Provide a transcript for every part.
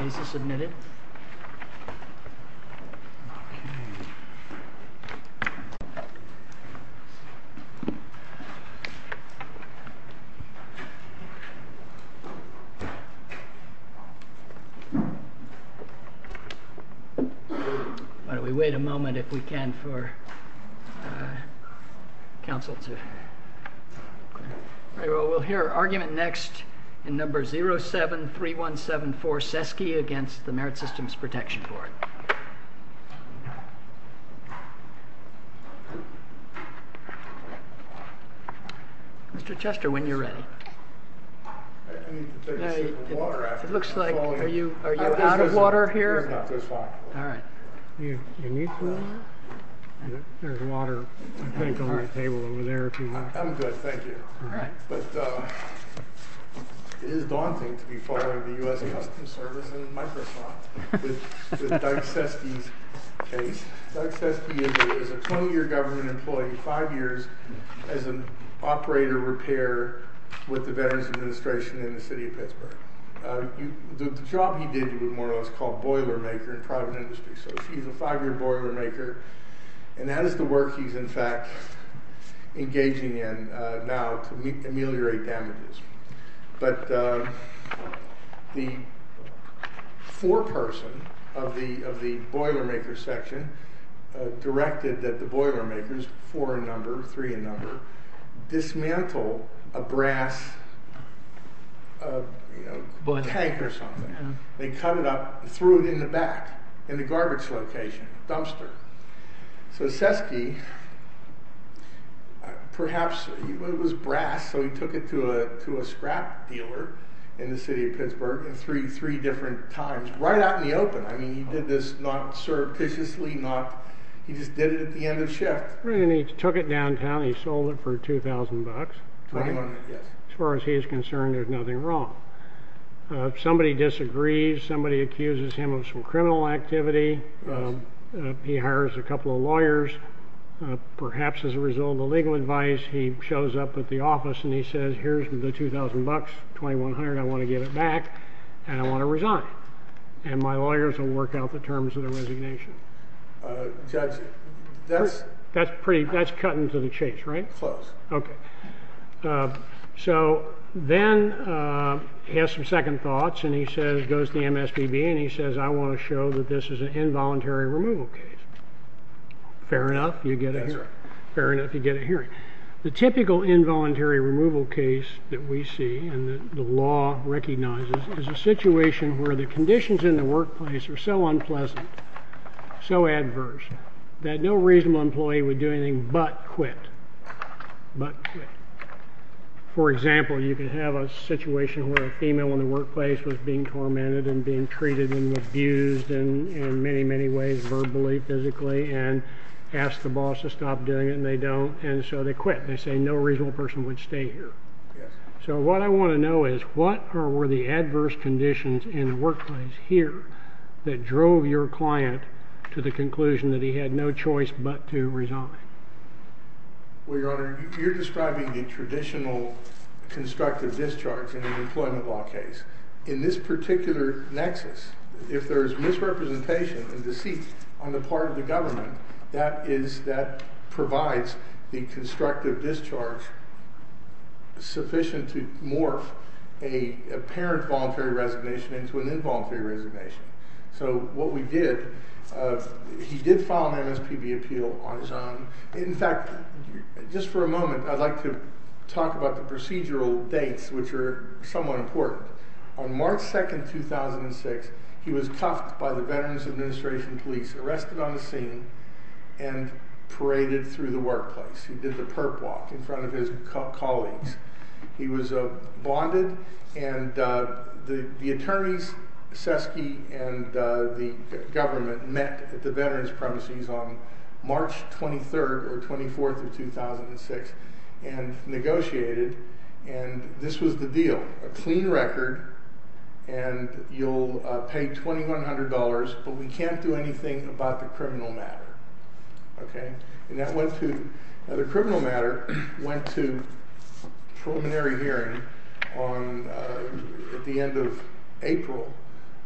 Is this admitted? Why don't we wait a moment, if we can, for counsel to... Well, we'll hear argument next in number 07-3174, SESKE, against the Merit Systems Protection Board. Mr. Chester, when you're ready. It looks like... Are you out of water here? There's water, I think, on the table over there. I'm good, thank you. But it is daunting to be following the U.S. Customs Service and the Microsoft with Doug SESKE's case. Doug SESKE is a 20-year government employee, five years as an operator repairer with the Veterans Administration in the city of Pittsburgh. The job he did, more or less, was called boiler maker in private industry, so he's a five-year boiler maker. And that is the work he's, in fact, engaging in now to ameliorate damages. But the foreperson of the boiler maker section directed that the boiler makers, four in number, three in number, dismantle a brass tank or something. They cut it up, threw it in the back, in the garbage location, dumpster. So SESKE, perhaps, it was brass, so he took it to a scrap dealer in the city of Pittsburgh three different times, right out in the open. I mean, he did this not surreptitiously, he just did it at the end of shift. Right, and he took it downtown, he sold it for $2,000. $2,000, yes. As far as he's concerned, there's nothing wrong. If somebody disagrees, somebody accuses him of some criminal activity, he hires a couple of lawyers, perhaps as a result of the legal advice, he shows up at the office and he says, here's the $2,000, $2,100, I want to give it back, and I want to resign. And my lawyers will work out the terms of the resignation. Judge, that's pretty, that's cutting to the chase, right? Close. So then he has some second thoughts, and he says, goes to the MSPB, and he says, I want to show that this is an involuntary removal case. Fair enough, you get a hearing. The typical involuntary removal case that we see, and the law recognizes, is a situation where the conditions in the workplace are so unpleasant, so adverse, that no reasonable employee would do anything but quit, but quit. For example, you can have a situation where a female in the workplace was being tormented and being treated and abused in many, many ways, verbally, physically, and asked the boss to stop doing it, and they don't, and so they quit. They say no reasonable person would stay here. So what I want to know is, what were the adverse conditions in the workplace here that drove your client to the conclusion that he had no choice but to resign? Well, Your Honor, you're describing the traditional constructive discharge in an employment law case. In this particular nexus, if there is misrepresentation and deceit on the part of the government, that is, that provides the constructive discharge sufficient to morph a parent voluntary resignation into an involuntary resignation. So what we did, he did file an MSPB appeal on his own. In fact, just for a moment, I'd like to talk about the procedural dates, which are somewhat important. On March 2nd, 2006, he was cuffed by the Veterans Administration Police, arrested on the scene, and paraded through the workplace. He did the perp walk in front of his colleagues. He was bonded, and the attorneys, Seske and the government, met at the veterans' premises on March 23rd or 24th of 2006, and negotiated, and this was the deal. A clean record, and you'll pay $2,100, but we can't do anything about the criminal matter. The criminal matter went to preliminary hearing at the end of April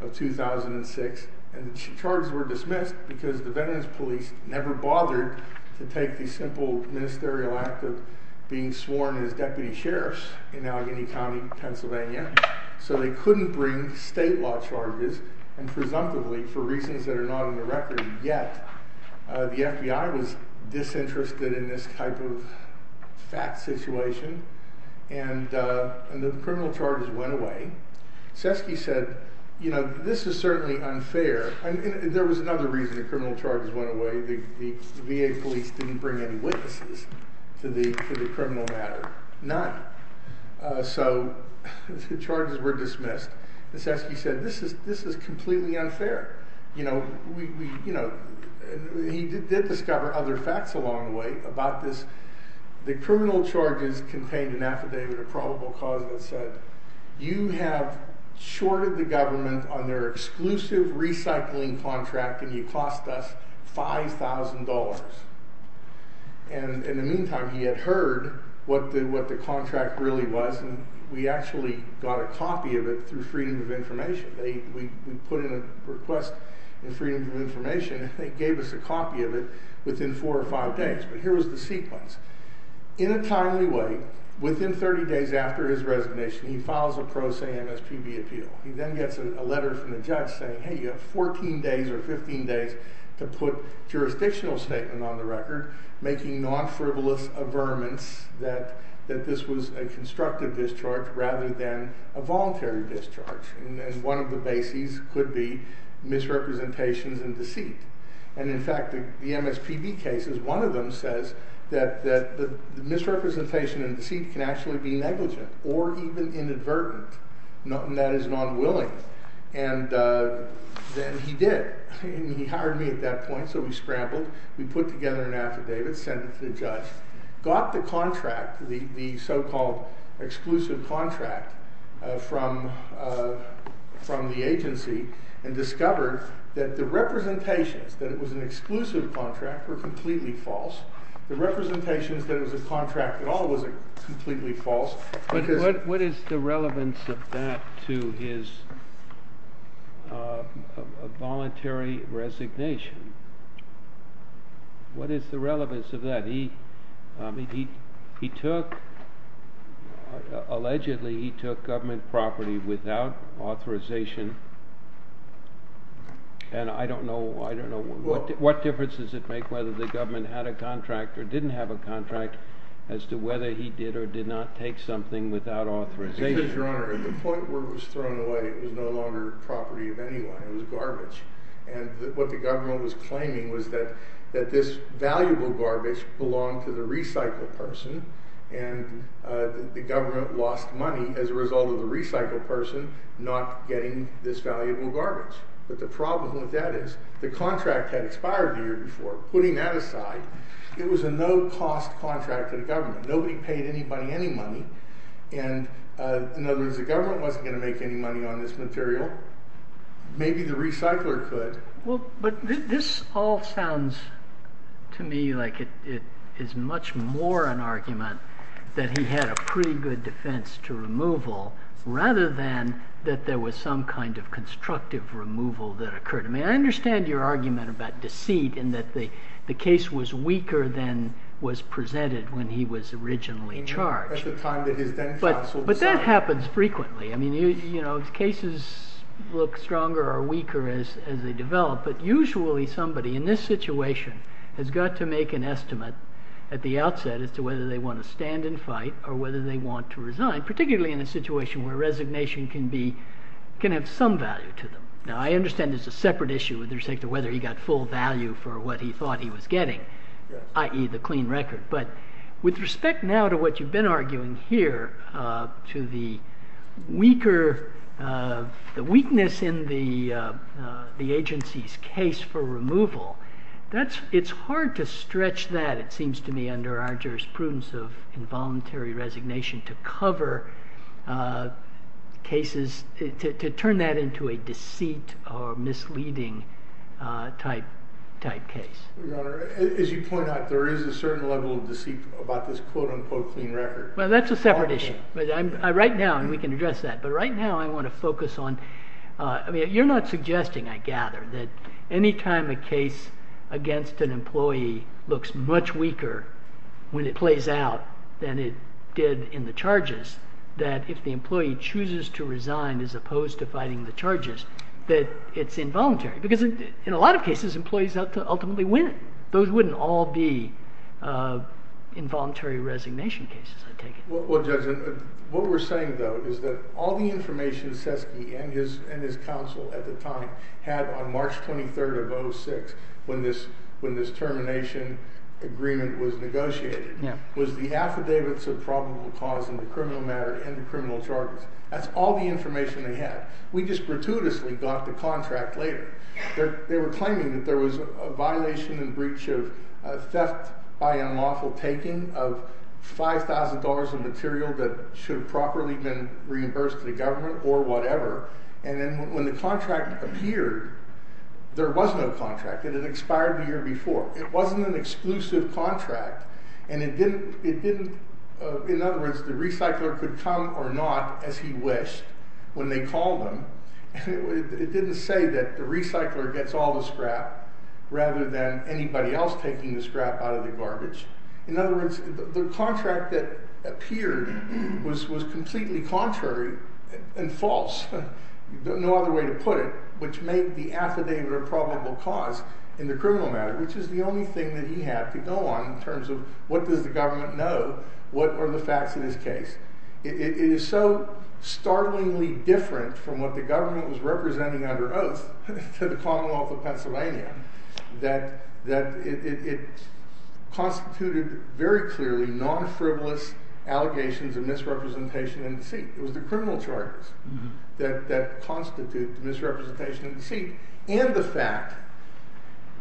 of 2006, and the charges were dismissed because the Veterans Police never bothered to take the simple ministerial act of being sworn as deputy sheriffs in Allegheny County, Pennsylvania, so they couldn't bring state law charges, and presumptively, for reasons that are not on the record yet, the FBI was disinterested in this type of fat situation, and the criminal charges went away. Seske said, you know, this is certainly unfair, and there was another reason the criminal charges went away. The VA police didn't bring any witnesses to the criminal matter. None. So the charges were dismissed, and Seske said, this is completely unfair. You know, he did discover other facts along the way about this. The criminal charges contained an affidavit of probable cause that said, you have shorted the government on their exclusive recycling contract, and you cost us $5,000. And in the meantime, he had heard what the contract really was, and we actually got a copy of it through Freedom of Information. We put in a request in Freedom of Information, and they gave us a copy of it within four or five days. But here was the sequence. In a timely way, within 30 days after his resignation, he files a pro se MSPB appeal. He then gets a letter from the judge saying, hey, you have 14 days or 15 days to put jurisdictional statement on the record, making non-frivolous averments that this was a constructive discharge rather than a voluntary discharge. And one of the bases could be misrepresentations and deceit. And in fact, the MSPB cases, one of them says that the misrepresentation and deceit can actually be negligent or even inadvertent, and that is non-willing. And then he did. He hired me at that point, so we scrambled. We put together an affidavit, sent it to the judge, got the contract, the so-called exclusive contract, from the agency, and discovered that the representations that it was an exclusive contract were completely false. The representations that it was a contract at all was completely false. But what is the relevance of that to his voluntary resignation? What is the relevance of that? He took... Allegedly, he took government property without authorization. And I don't know... What difference does it make whether the government had a contract or didn't have a contract as to whether he did or did not take something without authorization? Because, Your Honor, at the point where it was thrown away, it was no longer property of anyone. It was garbage. And what the government was claiming was that this valuable garbage belonged to the recycle person, and the government lost money as a result of the recycle person not getting this valuable garbage. But the problem with that is the contract had expired the year before. Putting that aside, it was a no-cost contract to the government. Nobody paid anybody any money. And, in other words, the government wasn't going to make any money on this material. Maybe the recycler could. But this all sounds to me like it is much more an argument that he had a pretty good defense to removal rather than that there was some kind of constructive removal that occurred. I mean, I understand your argument about deceit and that the case was weaker than was presented when he was originally charged. At the time that his then-counsel... But that happens frequently. I mean, you know, cases look stronger or weaker as they develop, but usually somebody in this situation has got to make an estimate at the outset as to whether they want to stand and fight or whether they want to resign, particularly in a situation where resignation can have some value to them. Now, I understand there's a separate issue with respect to whether he got full value for what he thought he was getting, i.e., the clean record. But with respect now to what you've been arguing here, to the weaker... the agency's case for removal, it's hard to stretch that, it seems to me, under our jurisprudence of involuntary resignation to cover cases, to turn that into a deceit or misleading type case. Your Honor, as you point out, there is a certain level of deceit about this quote-unquote clean record. Well, that's a separate issue. Right now, and we can address that, but right now I want to focus on... I mean, you're not suggesting, I gather, that any time a case against an employee looks much weaker when it plays out than it did in the charges, that if the employee chooses to resign as opposed to fighting the charges, that it's involuntary. Because in a lot of cases, employees ultimately win. Those wouldn't all be involuntary resignation cases, I take it. Well, Judge, what we're saying, though, is that all the information and his counsel at the time had on March 23rd of 06, when this termination agreement was negotiated, was the affidavits of probable cause and the criminal matter and the criminal charges. That's all the information they had. We just gratuitously got the contract later. They were claiming that there was a violation in breach of theft by unlawful taking of $5,000 of material that should have properly been reimbursed to the government or whatever. And then when the contract appeared, there was no contract. It had expired the year before. It wasn't an exclusive contract, and it didn't... In other words, the recycler could come or not as he wished when they called him. It didn't say that the recycler gets all the scrap rather than anybody else taking the scrap out of the garbage. In other words, the contract that appeared was completely contrary and false. No other way to put it, which made the affidavit of probable cause and the criminal matter, which is the only thing that he had to go on in terms of what does the government know, what are the facts in his case. It is so startlingly different from what the government was representing under oath to the Commonwealth of Pennsylvania that it constituted very clearly the non-frivolous allegations of misrepresentation and deceit. It was the criminal charges that constituted misrepresentation and deceit and the fact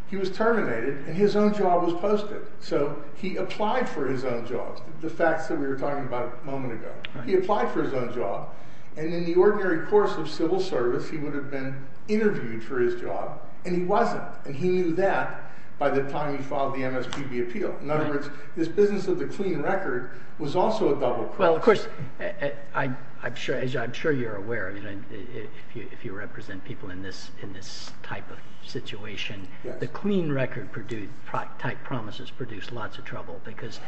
he was terminated and his own job was posted. So he applied for his own job, the facts that we were talking about a moment ago. He applied for his own job, and in the ordinary course of civil service, he would have been interviewed for his job, and he wasn't, and he knew that by the time he filed the MSPB appeal. In other words, this business of the clean record was also a double-cross. Well, of course, as I'm sure you're aware, if you represent people in this type of situation, the clean record type promises produce lots of trouble because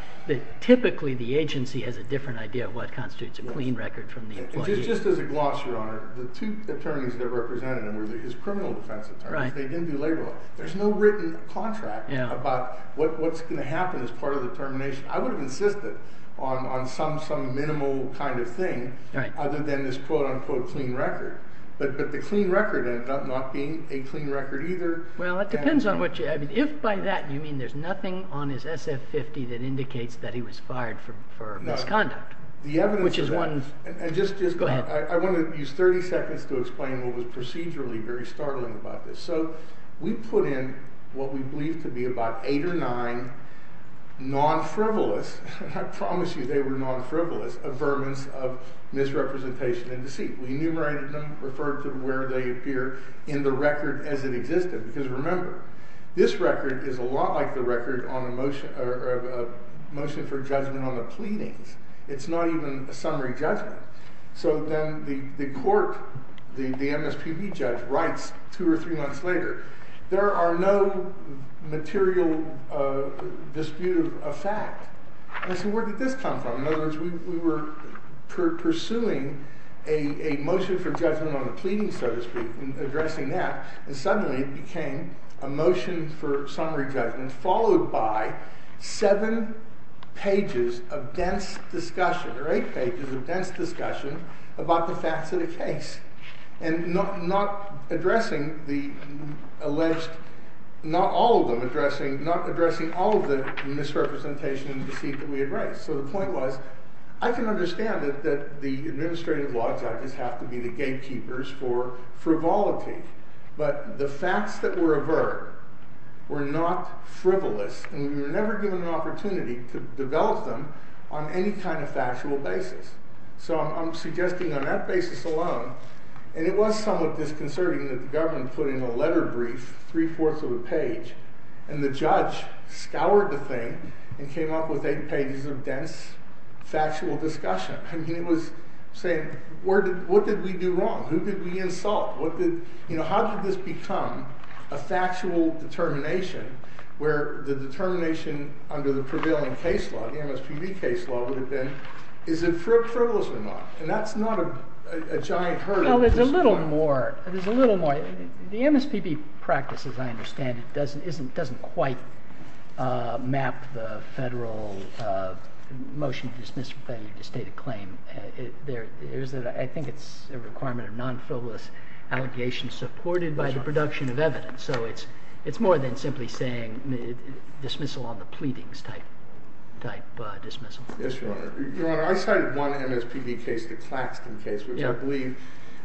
typically the agency has a different idea of what constitutes a clean record from the employee. Just as a gloss, Your Honor, the two attorneys that represented him were his criminal defense attorneys. They didn't do labor law. There's no written contract about what's going to happen as part of the termination. I would have insisted on some minimal kind of thing other than this quote-unquote clean record, but the clean record end up not being a clean record either. Well, it depends on what you... If by that you mean there's nothing on his SF-50 that indicates that he was fired for misconduct, which is one... Go ahead. I want to use 30 seconds to explain what was procedurally very startling about this. So we put in what we believe to be about 8 or 9 non-frivolous, and I promise you they were non-frivolous, affirmance of misrepresentation and deceit. We enumerated them, referred to where they appear in the record as it existed, because remember, this record is a lot like the record on a motion for judgment on the pleadings. It's not even a summary judgment. So then the court, the MSPB judge, writes 2 or 3 months later, there are no material dispute of fact. And I said, where did this come from? In other words, we were pursuing a motion for judgment on the pleadings, so to speak, and addressing that, and suddenly it became a motion for summary judgment followed by 7 pages of dense discussion, or 8 pages of dense discussion about the facts of the case, and not addressing the alleged, not all of them addressing, not addressing all of the misrepresentation and deceit that we had raised. So the point was, I can understand that the administrative law judges have to be the gatekeepers for frivolity, but the facts that were averred were not frivolous, and we were never given an opportunity to develop them on any kind of factual basis. So I'm suggesting on that basis alone, and it was somewhat disconcerting that the government put in a letter brief, 3 fourths of a page, and the judge scoured the thing and came up with 8 pages of dense factual discussion. I mean, it was saying, what did we do wrong? Who did we insult? How did this become a factual determination where the determination under the prevailing case law, the MSPB case law would have been, is it frivolous or not? And that's not a giant hurdle. Well, there's a little more. The MSPB practice, as I understand it, doesn't quite map the federal motion to dismiss a failure to state a claim. I think it's a requirement of non-frivolous allegations supported by the production of evidence. So it's more than simply saying dismissal on the pleadings type dismissal. Yes, Your Honor. Your Honor, I cited one MSPB case, the Claxton case, which I believe,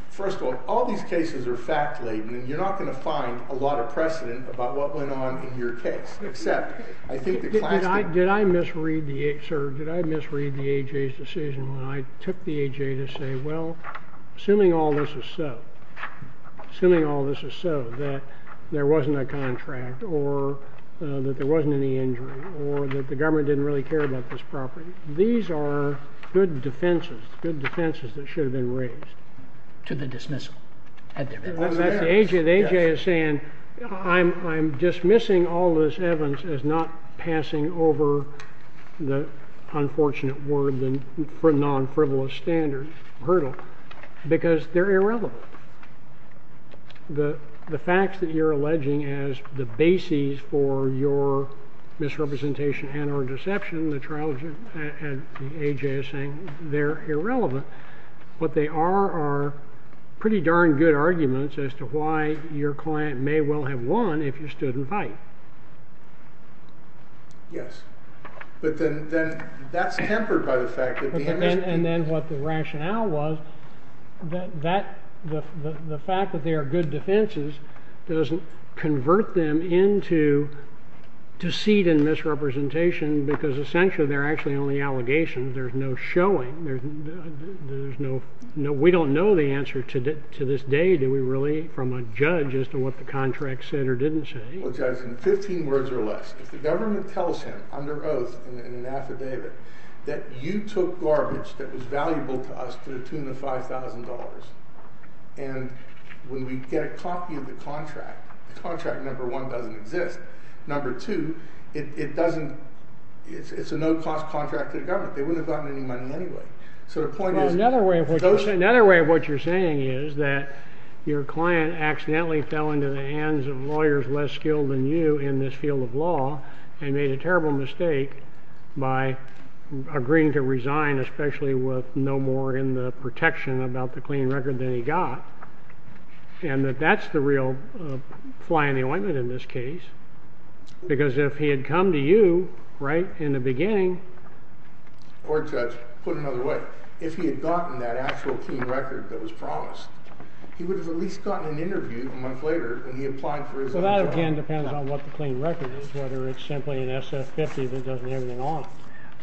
first of all, all these cases are fact-laden, and you're not going to find a lot of precedent about what went on in your case, except I think the Claxton case... Did I misread the A.J.'s decision when I took the A.J. to say, well, assuming all this is so, assuming all this is so, that there wasn't a contract or that there wasn't any injury or that the government didn't really care about this property. These are good defenses, good defenses that should have been raised. To the dismissal. The A.J. is saying, I'm dismissing all this evidence as not passing over the unfortunate word for non-frivolous standard hurdle because they're irrelevant. The facts that you're alleging as the basis for your misrepresentation and or deception, the trial, the A.J. is saying, they're irrelevant. What they are are pretty darn good arguments as to why your client may well have won if you stood and fight. Yes. But then that's tempered by the fact that the MSPB... And then what the rationale was, the fact that they are good defenses doesn't convert them into deceit and misrepresentation because essentially they're actually only allegations. There's no showing. There's no... We don't know the answer to this day from a judge as to what the contract said or didn't say. Judge, in 15 words or less, if the government tells him under oath in an affidavit that you took garbage that was valuable to us to the tune of $5,000 and when we get a copy of the contract, the contract, number one, doesn't exist. Number two, it doesn't... It's a no-cost contract to the government. They wouldn't have gotten any money anyway. Another way of what you're saying is that your client accidentally fell into the hands of lawyers less skilled than you in this field of law and made a terrible mistake by agreeing to resign, especially with no more in the protection about the clean record than he got, and that that's the real fly in the ointment in this case because if he had come to you right in the beginning... Or, Judge, put it another way. If he had gotten that actual clean record that was promised, he would have at least gotten an interview a month later when he applied for his own job. Well, that, again, depends on what the clean record is, whether it's simply an SF-50 that doesn't have anything on it.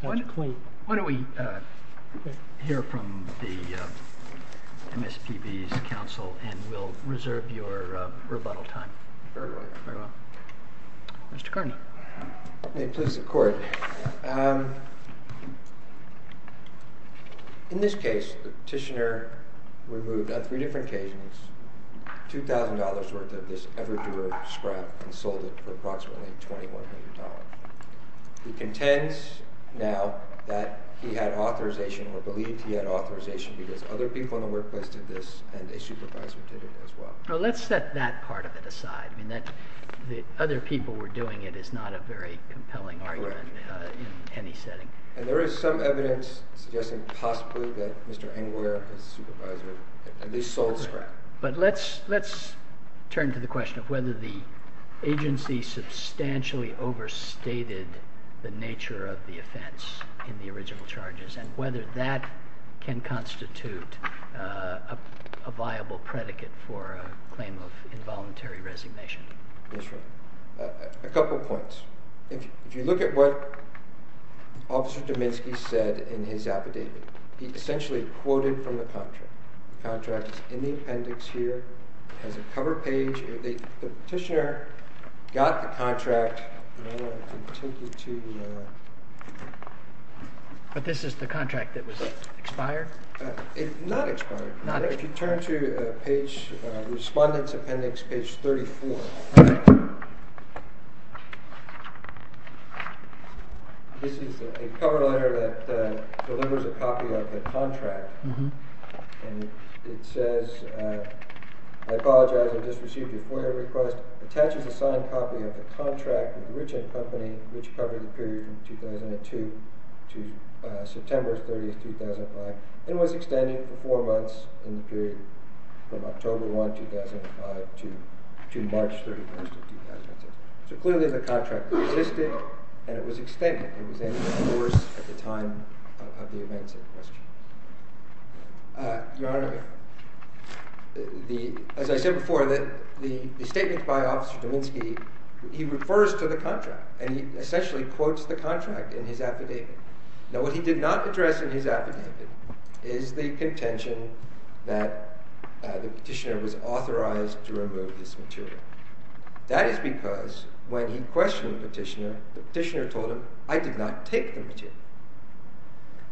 That's clean. Why don't we hear from the MSPB's counsel and we'll reserve your rebuttal time. Very well. Mr. Cardinal. May it please the Court. In this case, the petitioner removed, on three different occasions, $2,000 worth of this ever-doer scrap and sold it for approximately $2,100. He contends now that he had authorization or believed he had authorization because other people in the workplace did this and a supervisor did it as well. Let's set that part of it aside. That other people were doing it is not a very compelling argument in any setting. And there is some evidence suggesting possibly that Mr. Engler, his supervisor, at least sold scrap. But let's turn to the question of whether the agency substantially overstated the nature of the offense in the original charges and whether that can constitute a viable predicate for a claim of involuntary resignation. A couple points. If you look at what Officer Dominski said in his affidavit, he essentially quoted from the contract. The contract is in the appendix here. It has a cover page. The petitioner got the contract and I want to take you to But this is the contract that was expired? It's not expired. If you turn to page respondent's appendix, page 34 This is a cover letter that delivers a copy of the contract and it says I apologize, I just received your FOIA request. It attaches a signed copy of the contract of the rich end company, which covered the period from 2002 to September 30, 2005 and was extended for four months in the period from October 1, 2005 to March 31, 2006. So clearly the contract existed and it was extended. It was in force at the time of the events in question. Your Honor, as I said before, the statement by Officer Dominski, he refers to the contract and he essentially quotes the contract in his affidavit. Now what he did not address in his affidavit is the contention that the petitioner was authorized to remove this material. That is because when he questioned the petitioner, the petitioner told him, I did not take the material.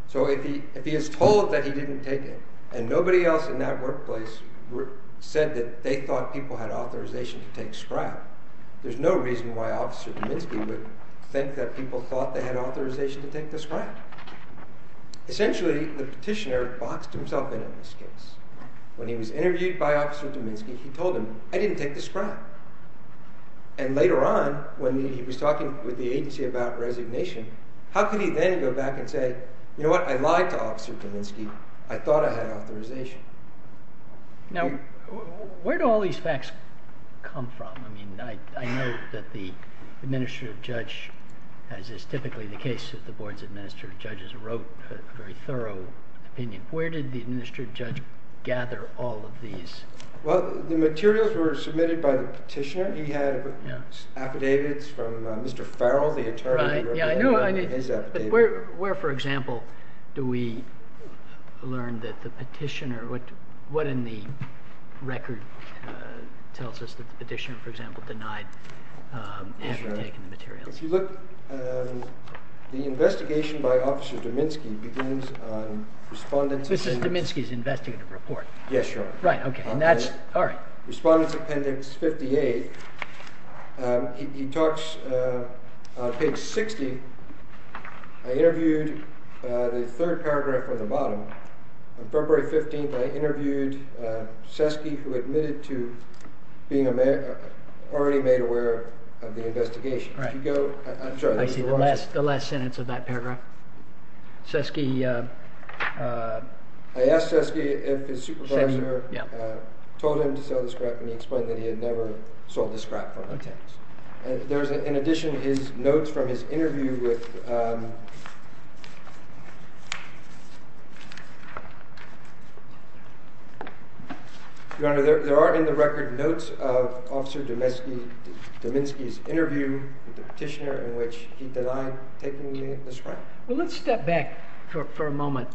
So if he is told that he didn't take it and nobody else in that workplace said that they thought people had authorization to take scrap, there's no reason why Officer Dominski would think that people thought they had authorization to take the scrap. Essentially, the petitioner boxed himself in on this case. When he was interviewed by Officer Dominski, he told him, I didn't take the scrap. And later on, when he was talking with the agency about resignation, how could he then go back and say, you know what, I lied to Officer Dominski, I thought I had authorization. Now, where do all these facts come from? I mean, I know that the administrative judge, as is typically the case of the board's administrative judges, wrote a very thorough opinion. Where did the administrative judge gather all of these? Well, the materials were submitted by the petitioner. He had affidavits from Mr. Farrell, the attorney who wrote his affidavit. Where, for example, do we learn that the petitioner, what in the record tells us that the petitioner, for example, denied having taken the materials? If you look, the investigation by Officer Dominski begins on Respondent's Appendix... This is Dominski's investigative report? Yes, Your Honor. Respondent's Appendix 58. He talks on page 60. I interviewed the third paragraph on the bottom. February 15th, I interviewed Seske who admitted to being already made aware of the investigation. I see. The last sentence of that paragraph. Seske... I asked Seske if his supervisor told him to sell the scrap and he explained that he had never sold the scrap from the tenants. In addition, his notes from his interview with... Your Honor, there are in the record notes of Officer Dominski's interview with the petitioner in which he denied taking the scrap. Well, let's step back for a moment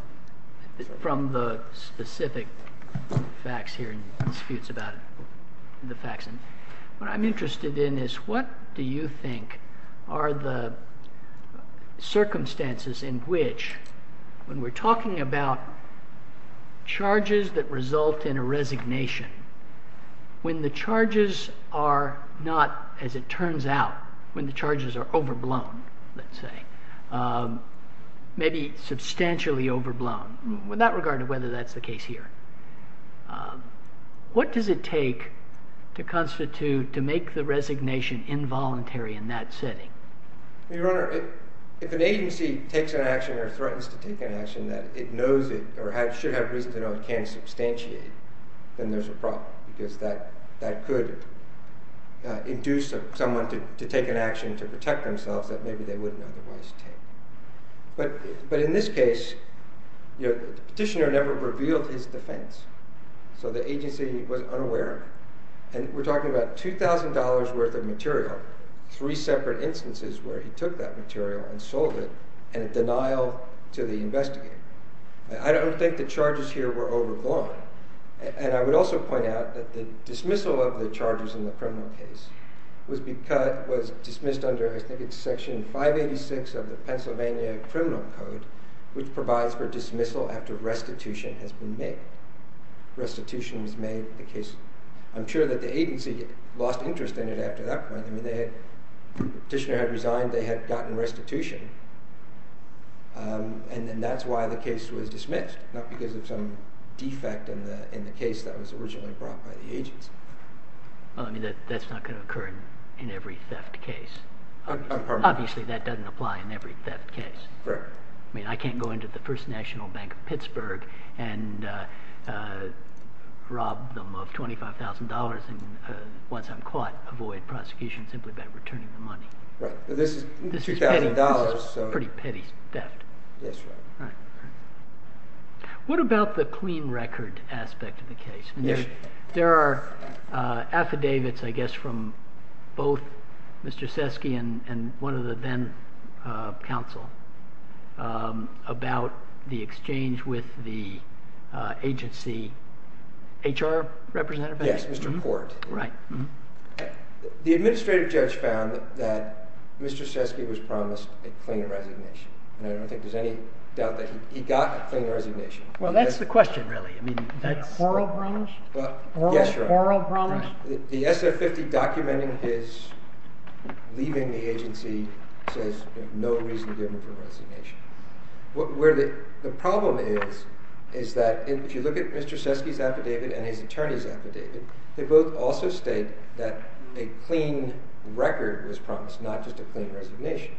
from the specific facts here and disputes about the facts. What I'm interested in is what do you think are the circumstances in which when we're talking about charges that result in a resignation when the charges are not, as it turns out, when the charges are overblown, let's say, maybe substantially overblown, without regard to whether that's the case here. What does it take to constitute, to make the resignation involuntary in that setting? Your Honor, if an agency takes an action or threatens to take an action that it knows it or should have reason to know it can substantiate, then there's a problem because that could induce someone to take an action to protect themselves that maybe they wouldn't otherwise take. But in this case, the petitioner never revealed his defense, so the agency was unaware. We're talking about $2,000 worth of material, three separate instances where he took that material and sold it in denial to the investigator. I don't think the charges here were overblown, and I would also point out that the dismissal of the charges in the criminal case was dismissed under, I think it's section 586 of the Pennsylvania Criminal Code, which provides for dismissal after restitution has been made. Restitution was made in the case. I'm sure that the agency lost interest in it after that point. The petitioner had resigned, they had gotten restitution, and that's why the case was dismissed, not because of some defect in the case that was originally brought by the agency. That's not going to occur in every theft case. Obviously, that doesn't apply in every theft case. I can't go into the First National Bank in Pittsburgh and rob them of $25,000 and once I'm caught, avoid prosecution simply by returning the money. This is pretty petty theft. the clean record aspect of the case? There are affidavits, I guess, from both Mr. Seske and one of the then counsel about the exchange with the agency. HR representative? Yes, Mr. Court. The administrative judge found that Mr. Seske was promised a clean resignation, and I don't think there's any doubt that he got a clean resignation. Well, that's the question, really. Oral promise? Oral promise? The SF-50 documenting his leaving the agency says no reason given for resignation. The problem is that if you look at Mr. Seske's affidavit and his attorney's affidavit, they both also state that a clean record was promised, not just a clean resignation.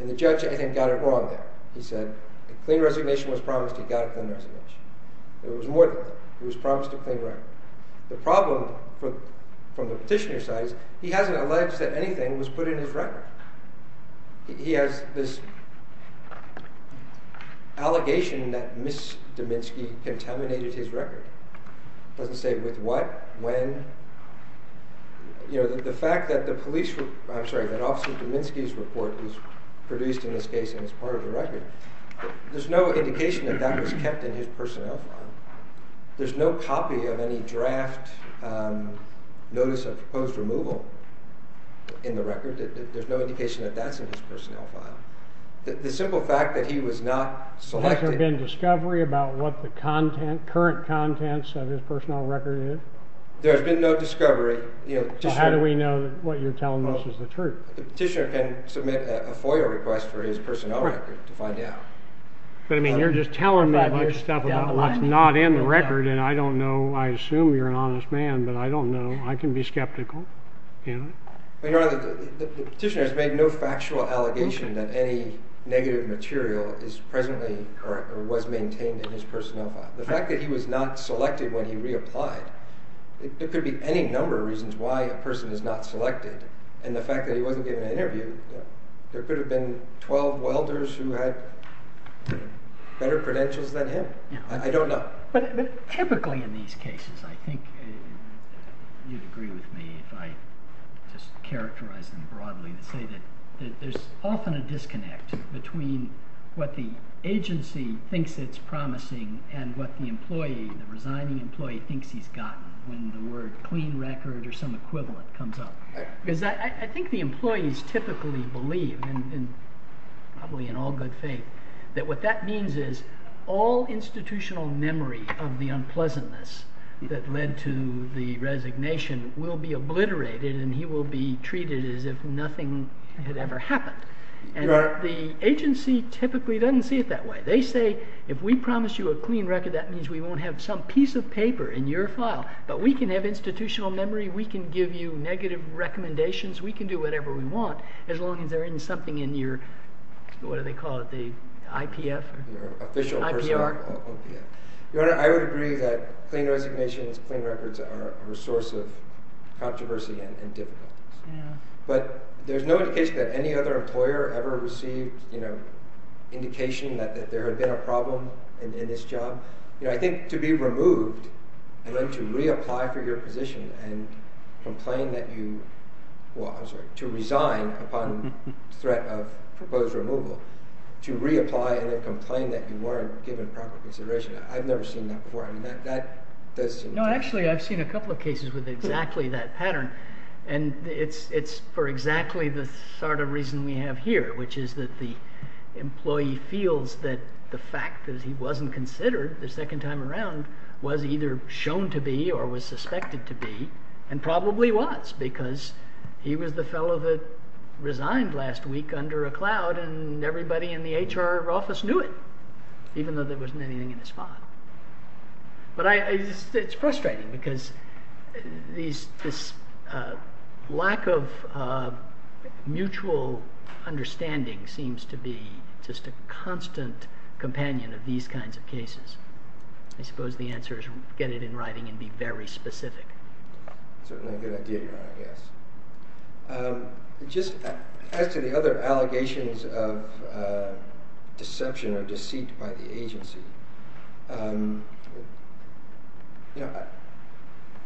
And the judge, I think, got it wrong there. He said a clean resignation was promised, he got a clean resignation. It was more than that. It was promised a clean record. The problem, from the petitioner's side, is he hasn't alleged that anything was put in his record. He has this allegation that Ms. Dominski contaminated his record. Doesn't say with what, when. You know, the fact that the police, I'm sorry, that Officer Dominski's report was produced in this case and is part of the record, there's no indication that that was kept in his personnel file. There's no copy of any draft notice of proposed removal in the record. There's no indication that that's in his personnel file. The simple fact that he was not selected... Has there been discovery about what the current contents of his personnel record is? There's been no discovery. How do we know what you're telling us is the truth? The petitioner can submit a FOIA request for his personnel record to find out. But, I mean, you're just telling me a bunch of stuff about what's not in the record and I don't know, I assume you're an honest man, but I don't know. I can be skeptical. You know? The petitioner has made no factual allegation that any negative material is presently, or was maintained in his personnel file. The fact that he was not selected when he reapplied, it could be any number of reasons why a person is not selected. And the fact that he wasn't given an interview, there could have been 12 welders who had better credentials than him. I don't know. But typically in these cases, I think, you'd agree with me if I just characterize them broadly and say that there's often a disconnect between what the agency thinks it's promising and what the employee, the resigning employee, thinks he's gotten when the word clean record or some equivalent comes up. Because I think the employees typically believe, and probably in all good faith, that what that means is all institutional memory of the unpleasantness that led to the resignation will be obliterated and he will be treated as if nothing had ever happened. And the agency typically doesn't see it that way. They say, if we promise you a clean record, that means we won't have some piece of paper in your file. But we can have institutional memory, we can give you negative recommendations, we can do whatever we want, as long as they're in something in your, what do they call it, the IPF? The IPR. Your Honor, I would agree that clean resignations, clean records are a resource of controversy and difficulties. But there's no indication that any other employer ever received indication that there had been a problem in this job. I think to be removed and then to reapply for your position and complain that you, well I'm sorry, to resign upon threat of proposed removal, to reapply and then complain that you weren't given proper consideration, I've never seen that before. No, actually I've seen a couple of cases with exactly that pattern. And it's for exactly the sort of reason we have here, which is that the employee feels that the fact that he wasn't considered the second time around was either shown to be or was suspected to be, and probably was because he was the fellow that was under a cloud and everybody in the HR office knew it. Even though there wasn't anything in his file. But it's frustrating because this lack of mutual understanding seems to be just a constant companion of these kinds of cases. I suppose the answer is get it in writing and be very specific. Certainly a good idea, Your Honor. Yes. Just as to the other allegations of deception or deceit by the agency, you know,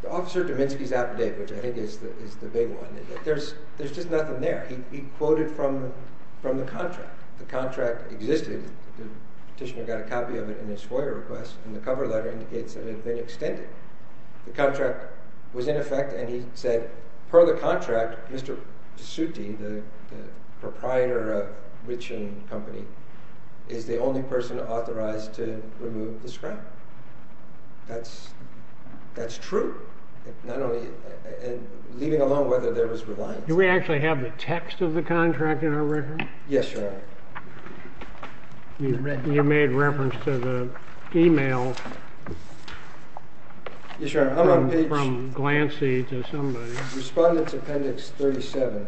Officer Dominski's outdate, which I think is the big one, there's just nothing there. He quoted from the contract. The contract existed, the petitioner got a copy of it in his FOIA request, and the cover letter indicates that it had been extended. The contract was in effect and he said, per the contract, Mr. Pesutti, the proprietor of Riching Company, is the only person authorized to remove the scrap. That's true. Not only, and leaving alone whether there was reliance. Do we actually have the text of the contract in our record? Yes, Your Honor. You made reference to the email from Glancy to somebody. Respondents Appendix 37.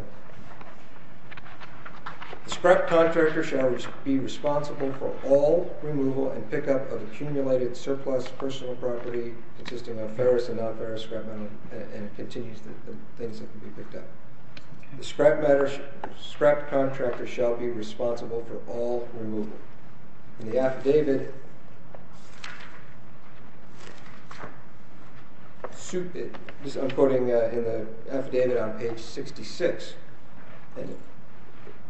The scrap contractor shall be responsible for all removal and pickup of accumulated surplus personal property consisting of ferrous and non-ferrous scrap metal, and it continues the things that can be picked up. The scrap contractor shall be responsible for all removal. In the affidavit, I'm quoting in the affidavit on page 66,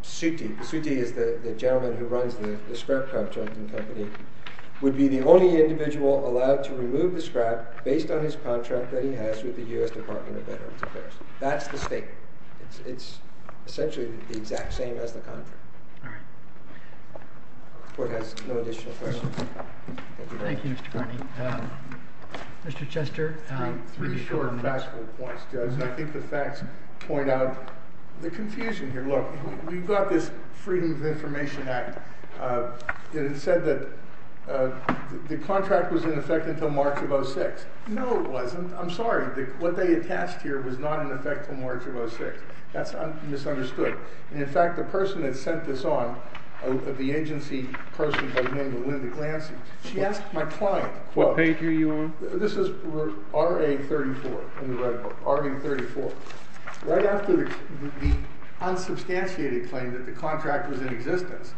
Pesutti, Pesutti is the gentleman who runs the scrap contracting company, would be the only individual allowed to remove the scrap based on his contract that he has with the U.S. Department of Veterans Affairs. That's the state. It's essentially the exact same as the contract. The Court has no additional questions. Thank you, Mr. Carney. Mr. Chester? Three short and fast points, Judge. I think the facts point out the confusion here. Look, we've got this Freedom of Information Act. It said that the contract was in effect until March of 2006. No, it wasn't. I'm sorry. What they attached here was not in effect until March of 2006. That's misunderstood. In fact, the person that sent this on, the Lansing, she asked my client... What page are you on? This is RA 34. RA 34. Right after the unsubstantiated claim that the contract was in existence,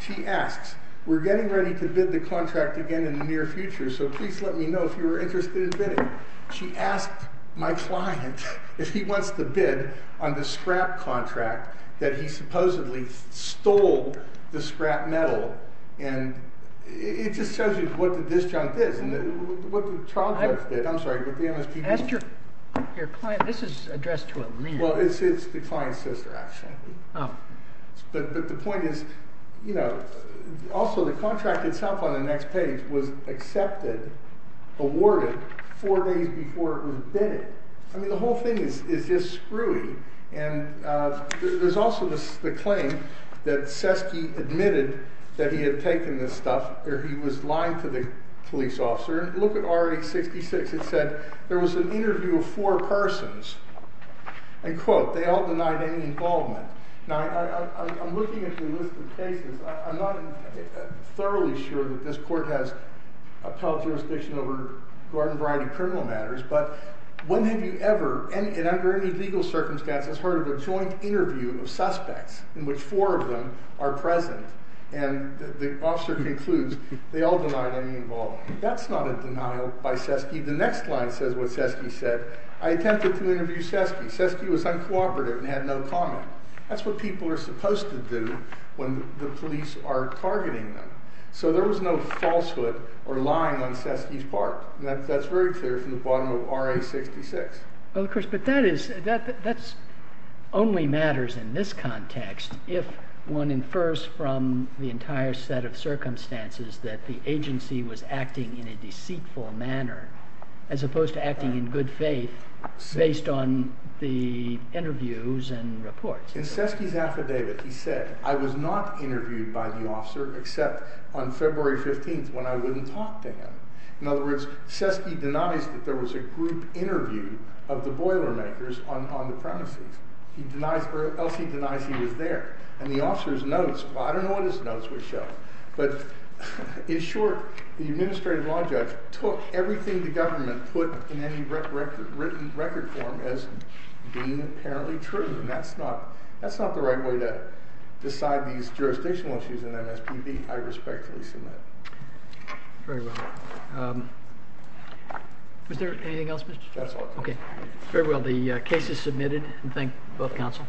she asks, we're getting ready to bid the contract again in the near future, so please let me know if you are interested in bidding. She asked my client if he wants to bid on the scrap contract that he supposedly stole the scrap metal and it just tells you what the disjunct is and what the child's worth bid. I'm sorry, but the MSPP... This is addressed to a lien. Well, it's the client's sister, actually. But the point is you know, also the contract itself on the next page was accepted, awarded four days before it was bid. I mean, the whole thing is just screwy and there's also the claim that Seske admitted that he had taken this stuff, or he was lying to the police officer. Look at RA 66. It said there was an interview of four persons and quote, they all denied any involvement. Now, I'm looking at your list of cases. I'm not thoroughly sure that this court has appellate jurisdiction over a variety of criminal matters, but when have you ever, and under any legal circumstances, heard of a joint interview of suspects in which four of them are present and the officer concludes they all denied any involvement. That's not a denial by Seske. The next line says what Seske said. I attempted to interview Seske. Seske was uncooperative and had no comment. That's what people are supposed to do when the police are targeting them. So there was no falsehood or lying on Seske's part. That's very clear from the bottom of RA 66. Well, of course, but that is only matters in this context if one infers from the entire set of circumstances that the agency was acting in a deceitful manner as opposed to acting in good faith based on the interviews and reports. In Seske's affidavit he said, I was not interviewed by the officer except on February 15th when I wouldn't talk to him. In other words, Seske denies that there was a group interview of the boilermakers on the premises. He denies, or Elsie denies he was there. And the officer's notes, well, I don't know what his notes were showing, but in short the administrative law judge took everything the government put in any written record form as being apparently true. And that's not the right way to decide these jurisdictional issues in MSPB. I respectfully submit. Very well. Was there anything else? That's all. Okay. Very well. The case is submitted. Thank both counsel.